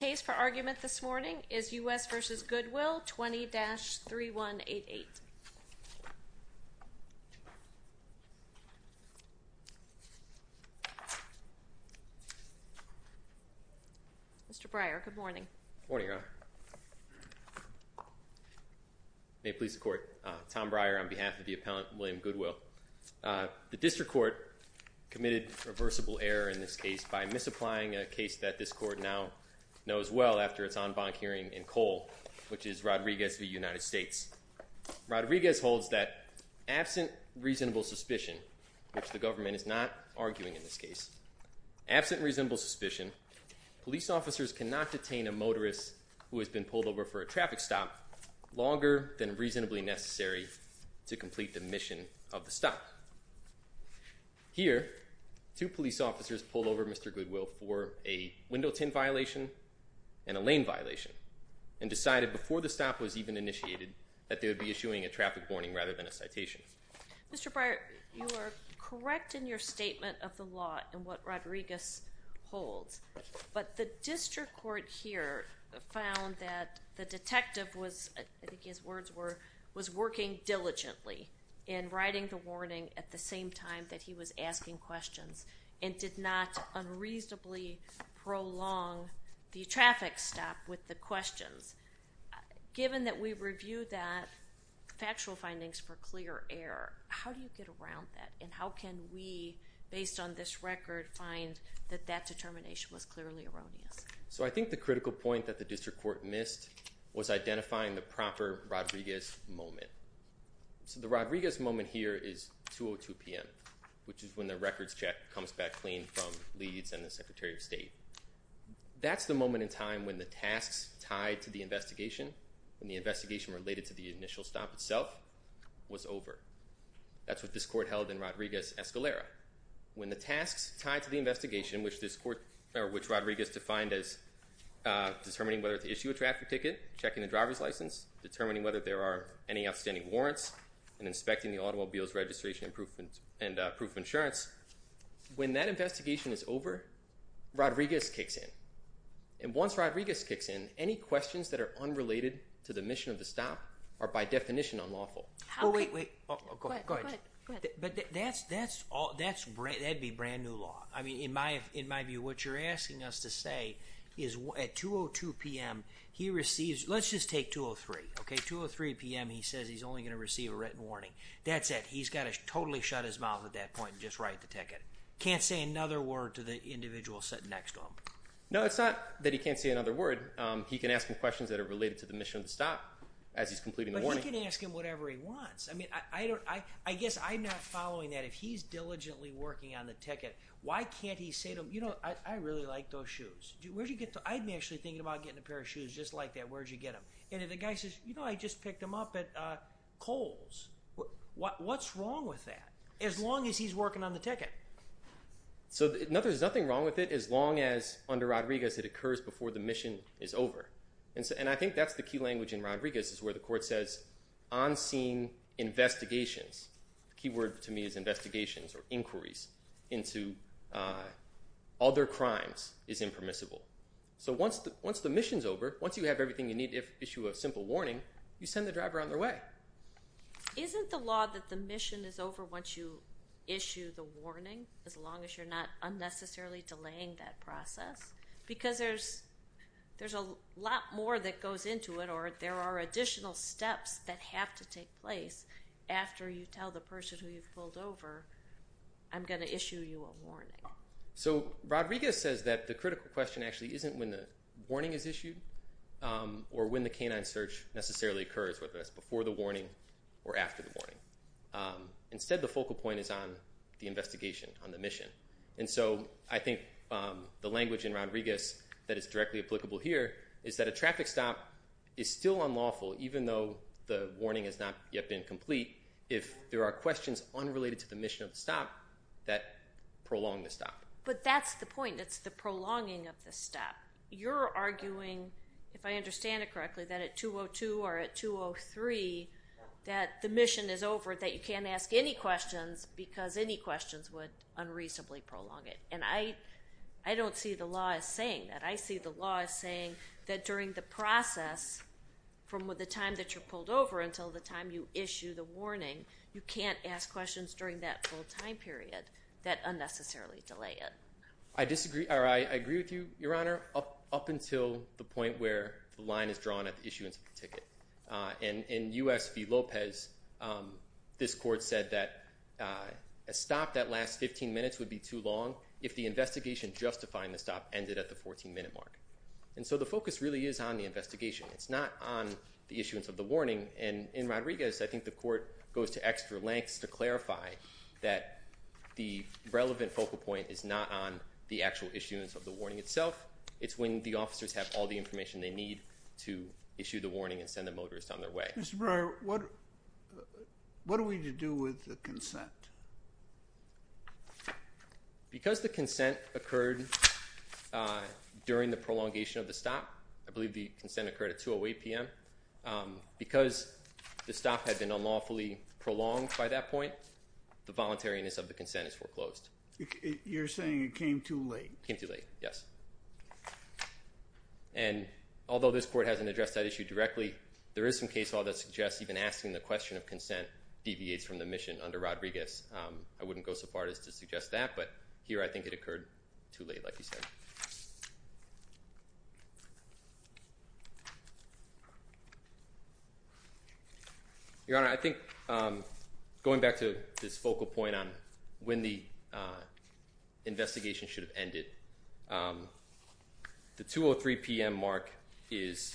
The case for argument this morning is U.S. v. Goodwill 20-3188. Mr. Breyer, good morning. Good morning, Your Honor. May it please the Court, Tom Breyer on behalf of the appellant William Goodwill. The district court committed reversible error in this case by misapplying a case that this after its en banc hearing in Cole, which is Rodriguez v. United States. Rodriguez holds that absent reasonable suspicion, which the government is not arguing in this case, absent reasonable suspicion, police officers cannot detain a motorist who has been pulled over for a traffic stop longer than reasonably necessary to complete the mission of the stop. Here, two police officers pulled over Mr. Goodwill for a window tint violation and a lane violation and decided before the stop was even initiated that they would be issuing a traffic warning rather than a citation. Mr. Breyer, you are correct in your statement of the law in what Rodriguez holds, but the district court here found that the detective was, I think his words were, was working diligently in writing the warning at the same time that he was asking questions and did not unreasonably prolong the traffic stop with the questions. Given that we reviewed that factual findings for clear error, how do you get around that and how can we, based on this record, find that that determination was clearly erroneous? So I think the critical point that the district court missed was identifying the proper Rodriguez moment. So the Rodriguez moment here is 2.02 p.m., which is when the records check comes back clean from Leeds and the Secretary of State. That's the moment in time when the tasks tied to the investigation, when the investigation related to the initial stop itself, was over. That's what this court held in Rodriguez-Escalera. When the tasks tied to the investigation, which Rodriguez defined as determining whether to issue a traffic ticket, checking the driver's license, determining whether there are any outstanding warrants, and inspecting the automobile's registration and proof of insurance, when that investigation is over, Rodriguez kicks in. And once Rodriguez kicks in, any questions that are unrelated to the mission of the stop are by definition unlawful. Wait, wait. Go ahead. Go ahead. But that's, that's all, that's, that'd be brand new law. I mean, in my, in my view, what you're asking us to say is at 2.02 p.m. he receives, let's just take 2.03. Okay, 2.03 p.m. he says he's only going to receive a written warning. That's it. He's got to totally shut his mouth at that point and just write the ticket. Can't say another word to the individual sitting next to him. No, it's not that he can't say another word. He can ask him questions that are related to the mission of the stop as he's completing the warning. But he can ask him whatever he wants. I mean, I don't, I, I guess I'm not following that. If he's diligently working on the ticket, why can't he say to him, you know, I, I really like those shoes. Where'd you get them? I've been actually thinking about getting a pair of shoes just like that. Where'd you get them? And if the guy says, you know, I just picked them up at Kohl's. What's wrong with that? As long as he's working on the ticket. So there's nothing wrong with it as long as under Rodriguez it occurs before the mission is over. And so, and I think that's the key language in Rodriguez is where the court says on scene investigations. The key word to me is investigations or inquiries into other crimes is impermissible. So once the, once the mission's over, once you have everything you need to issue a simple warning, you send the driver on their way. Isn't the law that the mission is over once you issue the warning as long as you're not unnecessarily delaying that process? Because there's, there's a lot more that goes into it or there are additional steps that have to take place after you tell the person who you've pulled over, I'm going to issue you a warning. So Rodriguez says that the critical question actually isn't when the warning is issued or when the canine search necessarily occurs, whether that's before the warning or after the warning. Instead, the focal point is on the investigation on the mission. And so I think the language in Rodriguez that is directly applicable here is that a traffic stop is still unlawful even though the warning has not yet been complete. If there are questions unrelated to the mission of the stop, that prolong the stop. But that's the point. It's the prolonging of the stop. You're arguing, if I understand it correctly, that at 202 or at 203 that the mission is over that you can't ask any questions because any questions would unreasonably prolong it. And I, I don't see the law as saying that. I see the law as saying that during the process from the time that you're pulled over until the time you issue the warning, you can't ask questions during that full time period that unnecessarily delay it. I disagree, or I agree with you, Your Honor, up until the point where the line is drawn at the issuance of the ticket. In U.S. v. Lopez, this court said that a stop that lasts 15 minutes would be too long if the investigation justifying the stop ended at the 14-minute mark. And so the focus really is on the investigation. It's not on the issuance of the warning. And in Rodriguez, I think the court goes to extra lengths to clarify that the relevant focal point is not on the actual issuance of the warning itself. It's when the officers have all the information they need to issue the warning and send the motorist on their way. Mr. Breyer, what, what are we to do with the consent? Because the consent occurred during the prolongation of the stop, I believe the consent occurred at 2 o'clock p.m. Because the stop had been unlawfully prolonged by that point, the voluntariness of the consent is foreclosed. You're saying it came too late? Came too late, yes. And although this court hasn't addressed that issue directly, there is some case law that suggests even asking the question of consent deviates from the mission under Rodriguez. I wouldn't go so far as to suggest that, but here I think it occurred too late, like you said. Your Honor, I think, um, going back to this focal point on when the, uh, investigation should have ended, um, the 2 o'clock p.m. mark is,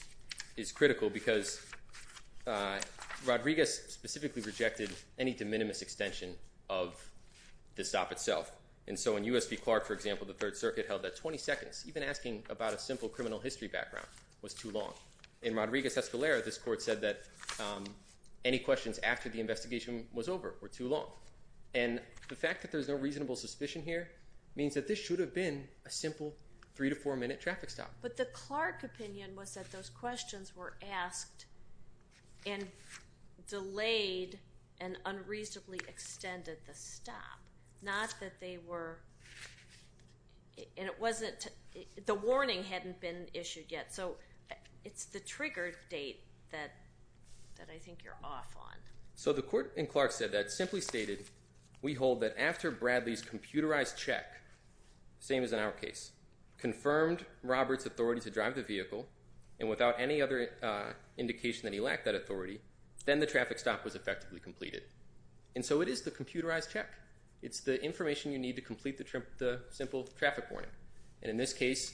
is critical because, uh, Rodriguez specifically rejected any de minimis extension of the stop itself. And so when U.S. v. Clark, for example, the Third Circuit held that 20 seconds, even asking about a simple criminal history background was too long. In Rodriguez-Escalera, this court said that, um, any questions after the investigation was over were too long. And the fact that there's no reasonable suspicion here means that this should have been a simple three to four minute traffic stop. But the Clark opinion was that those questions were asked and delayed and unreasonably extended the stop, not that they were, and it wasn't, the warning hadn't been issued yet. So it's the triggered date that, that I think you're off on. So the court in Clark said that, simply stated, we hold that after Bradley's computerized check, same as in our case, confirmed Robert's authority to drive the vehicle and without any other, uh, indication that he lacked that authority, then the traffic stop was effectively completed. And so it is the computerized check. It's the information you need to complete the simple traffic warning. And in this case,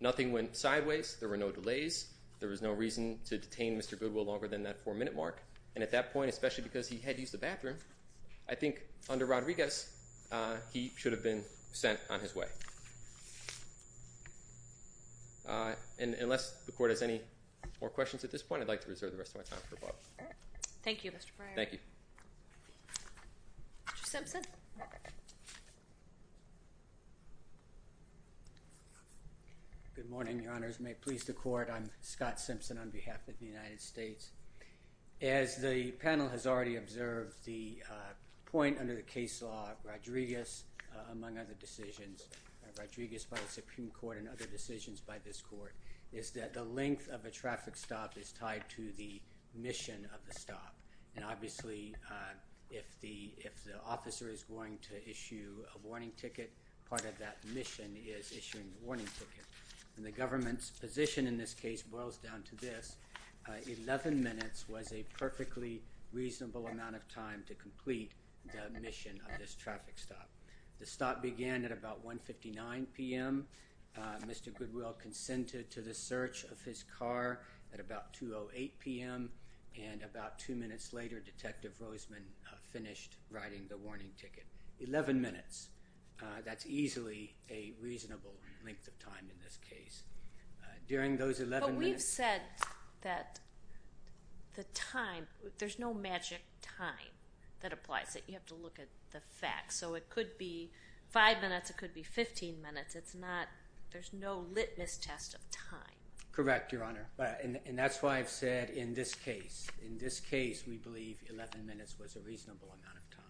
nothing went sideways, there were no delays, there was no reason to detain Mr. Goodwill longer than that four minute mark, and at that point, especially because he had used the bathroom, I think under Rodriguez, uh, he should have been sent on his way. Uh, and unless the court has any more questions at this point, I'd like to reserve the rest of my time for Bob. Thank you, Mr. Breyer. Thank you. Mr. Simpson. Good morning, your honors. May it please the court, I'm Scott Simpson on behalf of the United States. As the panel has already observed, the, uh, point under the case law of Rodriguez, uh, among other decisions, of Rodriguez by the Supreme Court and other decisions by this court, is that the length of a traffic stop is tied to the mission of the stop. And obviously, uh, if the, if the officer is going to issue a warning ticket, part of that mission is issuing the warning ticket. And the government's position in this case boils down to this, uh, 11 minutes was a perfectly reasonable amount of time to complete the mission of this traffic stop. The stop began at about 1.59 p.m., uh, Mr. Goodwill consented to the search of his car at about 2.08 p.m., and about two minutes later, Detective Roseman, uh, finished writing the warning ticket. 11 minutes, uh, that's easily a reasonable length of time in this case. Uh, during those 11 minutes- But we've said that the time, there's no magic time that applies, that you have to look at the facts. So it could be five minutes, it could be 15 minutes, it's not, there's no litmus test of time. Correct, Your Honor. Uh, and, and that's why I've said in this case, in this case, we believe 11 minutes was a reasonable amount of time.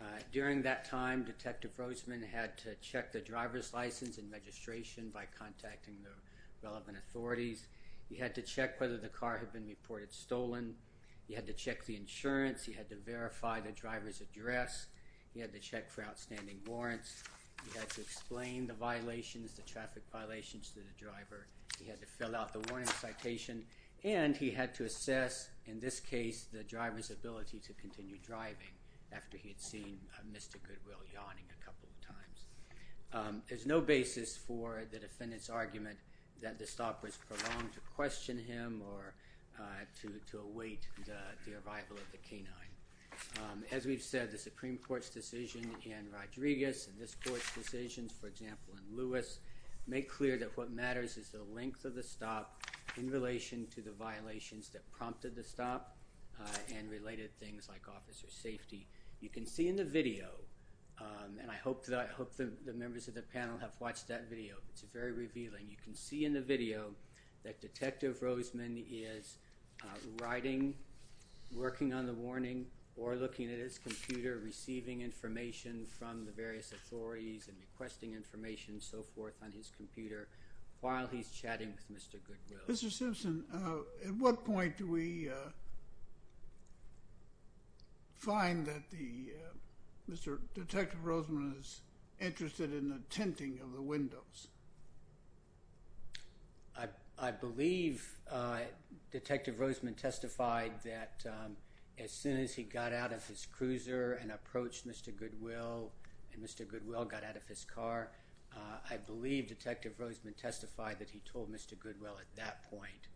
Uh, during that time, Detective Roseman had to check the driver's license and registration by contacting the relevant authorities. He had to check whether the car had been reported stolen. He had to check the insurance. He had to verify the driver's address. He had to check for outstanding warrants. He had to explain the violations, the traffic violations to the driver. He had to fill out the warning citation. And he had to assess, in this case, the driver's ability to continue driving after he had seen Mr. Goodwill yawning a couple of times. Um, there's no basis for the defendant's argument that the stop was prolonged to question him or, uh, to, to await the, the arrival of the canine. Um, as we've said, the Supreme Court's decision in Rodriguez and this court's decisions, for the length of the stop in relation to the violations that prompted the stop, uh, and related things like officer safety. You can see in the video, um, and I hope that, I hope that the members of the panel have watched that video. It's very revealing. You can see in the video that Detective Roseman is, uh, riding, working on the warning or looking at his computer, receiving information from the various authorities and requesting information and so forth on his computer. While he's chatting with Mr. Goodwill. Mr. Simpson, uh, at what point do we, uh, find that the, uh, Mr., Detective Roseman is interested in the tinting of the windows? I, I believe, uh, Detective Roseman testified that, um, as soon as he got out of his cruiser and approached Mr. Goodwill and Mr. Goodwill got out of his car, uh, I believe Detective Roseman testified that he told Mr. Goodwill at that point,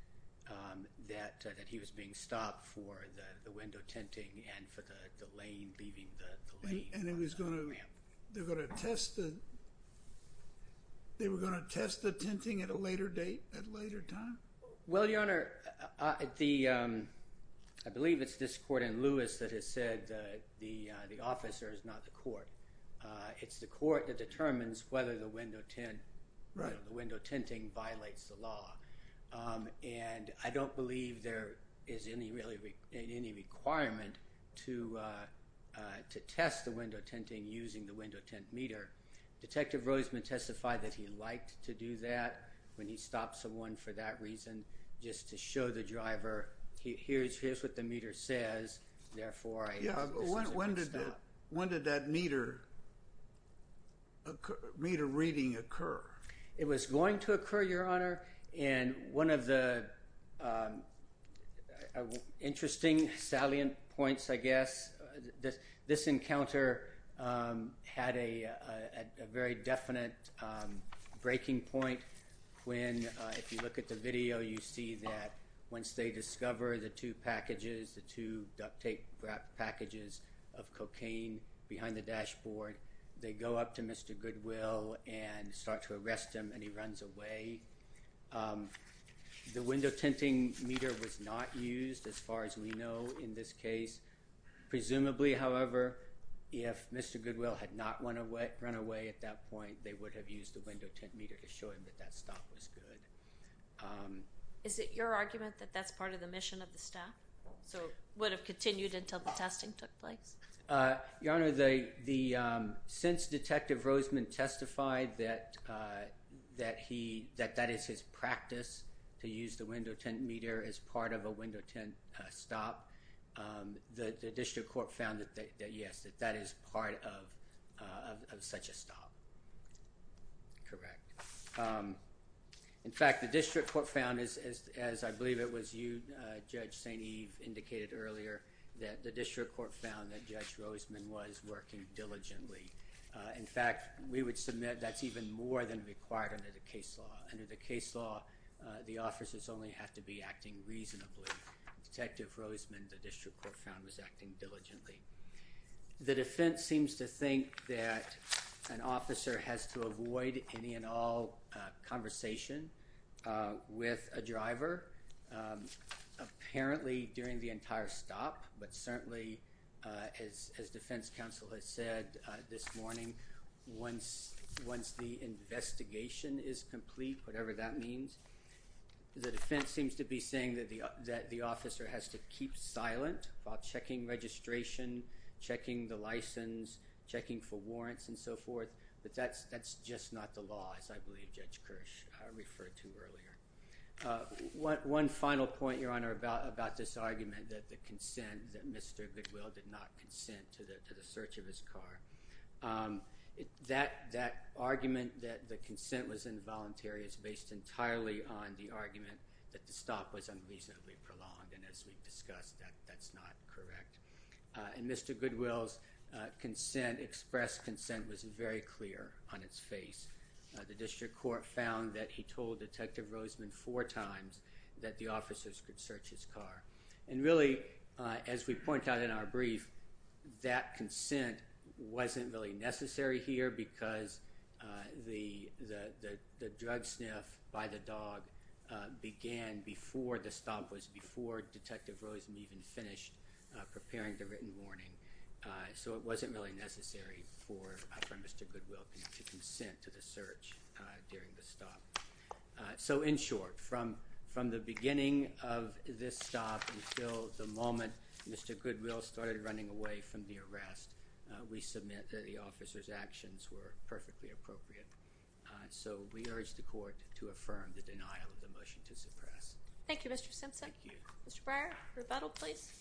um, that, uh, that he was being stopped for the, the window tinting and for the, the lane, leaving the, the lane. And it was going to, they were going to test the, they were going to test the tinting at a later date, at a later time? Well, Your Honor, uh, the, um, I believe it's this court in Lewis that has said, uh, the, uh, the officer is not the court. Uh, it's the court that determines whether the window tint. Right. The window tinting violates the law. Um, and I don't believe there is any really, any requirement to, uh, uh, to test the window tinting using the window tint meter. Detective Roseman testified that he liked to do that when he stopped someone for that reason, just to show the driver, here's, here's what the meter says, therefore I, this is a good stop. When did, when did that meter, meter reading occur? It was going to occur, Your Honor, and one of the, um, interesting salient points, I guess, this, this encounter, um, had a, a, a very definite, um, breaking point when, uh, if you look at the video, you see that once they discover the two packages, the two tape wrapped packages of cocaine behind the dashboard, they go up to Mr. Goodwill and start to arrest him and he runs away. Um, the window tinting meter was not used as far as we know in this case. Presumably, however, if Mr. Goodwill had not run away, run away at that point, they would have used the window tint meter to show him that that stop was good. Um. Is it your argument that that's part of the mission of the staff? So, would have continued until the testing took place? Uh, Your Honor, the, the, um, since Detective Roseman testified that, uh, that he, that that is his practice to use the window tint meter as part of a window tint, uh, stop, um, the, the district court found that, that, yes, that that is part of, uh, of such a stop. Correct. Um. In fact, the district court found as, as, as I believe it was you, uh, Judge St. Eve indicated earlier that the district court found that Judge Roseman was working diligently. Uh, in fact, we would submit that's even more than required under the case law. Under the case law, uh, the officers only have to be acting reasonably. Detective Roseman, the district court found, was acting diligently. The defense seems to think that an officer has to avoid any and all, uh, conversation, uh, with a driver, um, apparently during the entire stop, but certainly, uh, as, as defense counsel has said, uh, this morning, once, once the investigation is complete, whatever that means, the defense seems to be saying that the, that the officer has to keep silent while checking registration, checking the license, checking for warrants and so forth, but that's, that's just not the law as I believe Judge Kirsch, uh, referred to earlier. Uh, one, one final point, Your Honor, about, about this argument that the consent, that Mr. Goodwill did not consent to the, to the search of his car. Um, that, that argument that the consent was involuntary is based entirely on the argument that the stop was unreasonably prolonged. And as we've discussed, that, that's not correct. Uh, and Mr. Goodwill's, uh, consent, expressed consent was very clear on its face. Uh, the district court found that he told Detective Roseman four times that the officers could search his car. And really, uh, as we point out in our brief, that consent wasn't really necessary here because, uh, the, the, the, the drug sniff by the dog, uh, began before the stop was, before Detective Roseman even finished, uh, preparing the written warning. Uh, so it wasn't really necessary for, uh, for Mr. Goodwill to consent to the search, uh, during the stop. Uh, so in short, from, from the beginning of this stop until the moment Mr. Goodwill started running away from the arrest, uh, we submit that the officer's actions were perfectly appropriate. Uh, so we urge the court to affirm the denial of the motion to suppress. Thank you, Mr. Simpson. Thank you. Mr. Breyer, rebuttal, please.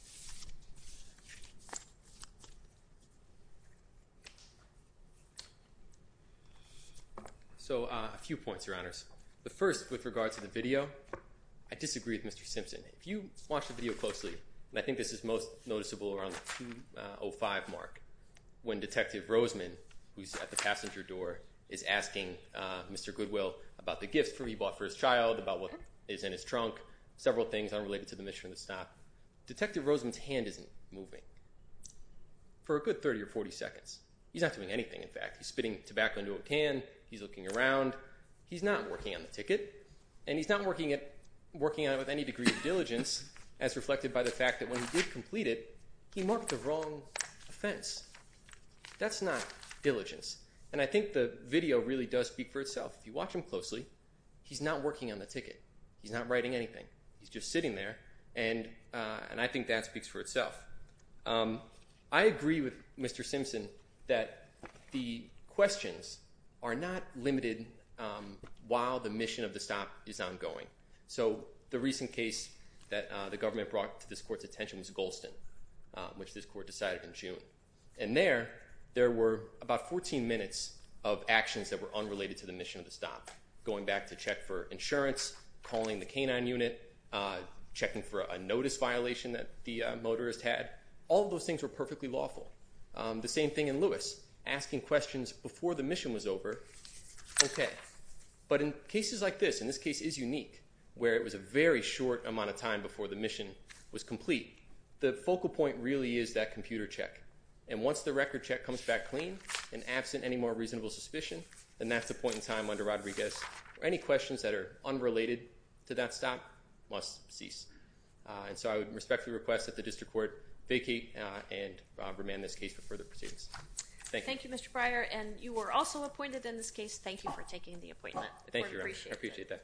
So, uh, a few points, Your Honors. The first, with regards to the video, I disagree with Mr. Simpson. If you watch the video closely, and I think this is most noticeable around the 2.05 mark when Detective Roseman, who's at the passenger door, is asking, uh, Mr. Goodwill about the gift he bought for his child, about what is in his trunk, several things unrelated to the mission of the stop. Detective Roseman's hand isn't moving for a good 30 or 40 seconds. He's not doing anything, in fact. He's spitting tobacco into a can. He's looking around. He's not working on the ticket, and he's not working at, working on it with any degree of diligence, as reflected by the fact that when he did complete it, he marked the wrong offense. That's not diligence. And I think the video really does speak for itself. If you watch him closely, he's not working on the ticket. He's not writing anything. He's just sitting there, and, uh, and I think that speaks for itself. Um, I agree with Mr. Simpson that the questions are not limited, um, while the mission of the stop is ongoing. So, the recent case that, uh, the government brought to this court's attention was Golston, uh, which this court decided in June. And there, there were about 14 minutes of actions that were unrelated to the mission of the stop, going back to check for insurance, calling the K-9 unit, uh, checking for a notice violation that the, uh, motorist had. All of those things were perfectly lawful. Um, the same thing in Lewis, asking questions before the mission was over. Okay. But in cases like this, and this case is unique, where it was a very short amount of time before the mission was complete, the focal point really is that computer check. And once the record check comes back clean and absent any more reasonable suspicion, then that's the point in time under Rodriguez where any questions that are unrelated to that stop must cease. Uh, and so, I would respectfully request that the district court vacate, uh, and, uh, remand this case for further proceedings. Thank you. Thank you, Mr. Breyer. And you were also appointed in this case. Thank you for taking the appointment. Thank you. We appreciate that.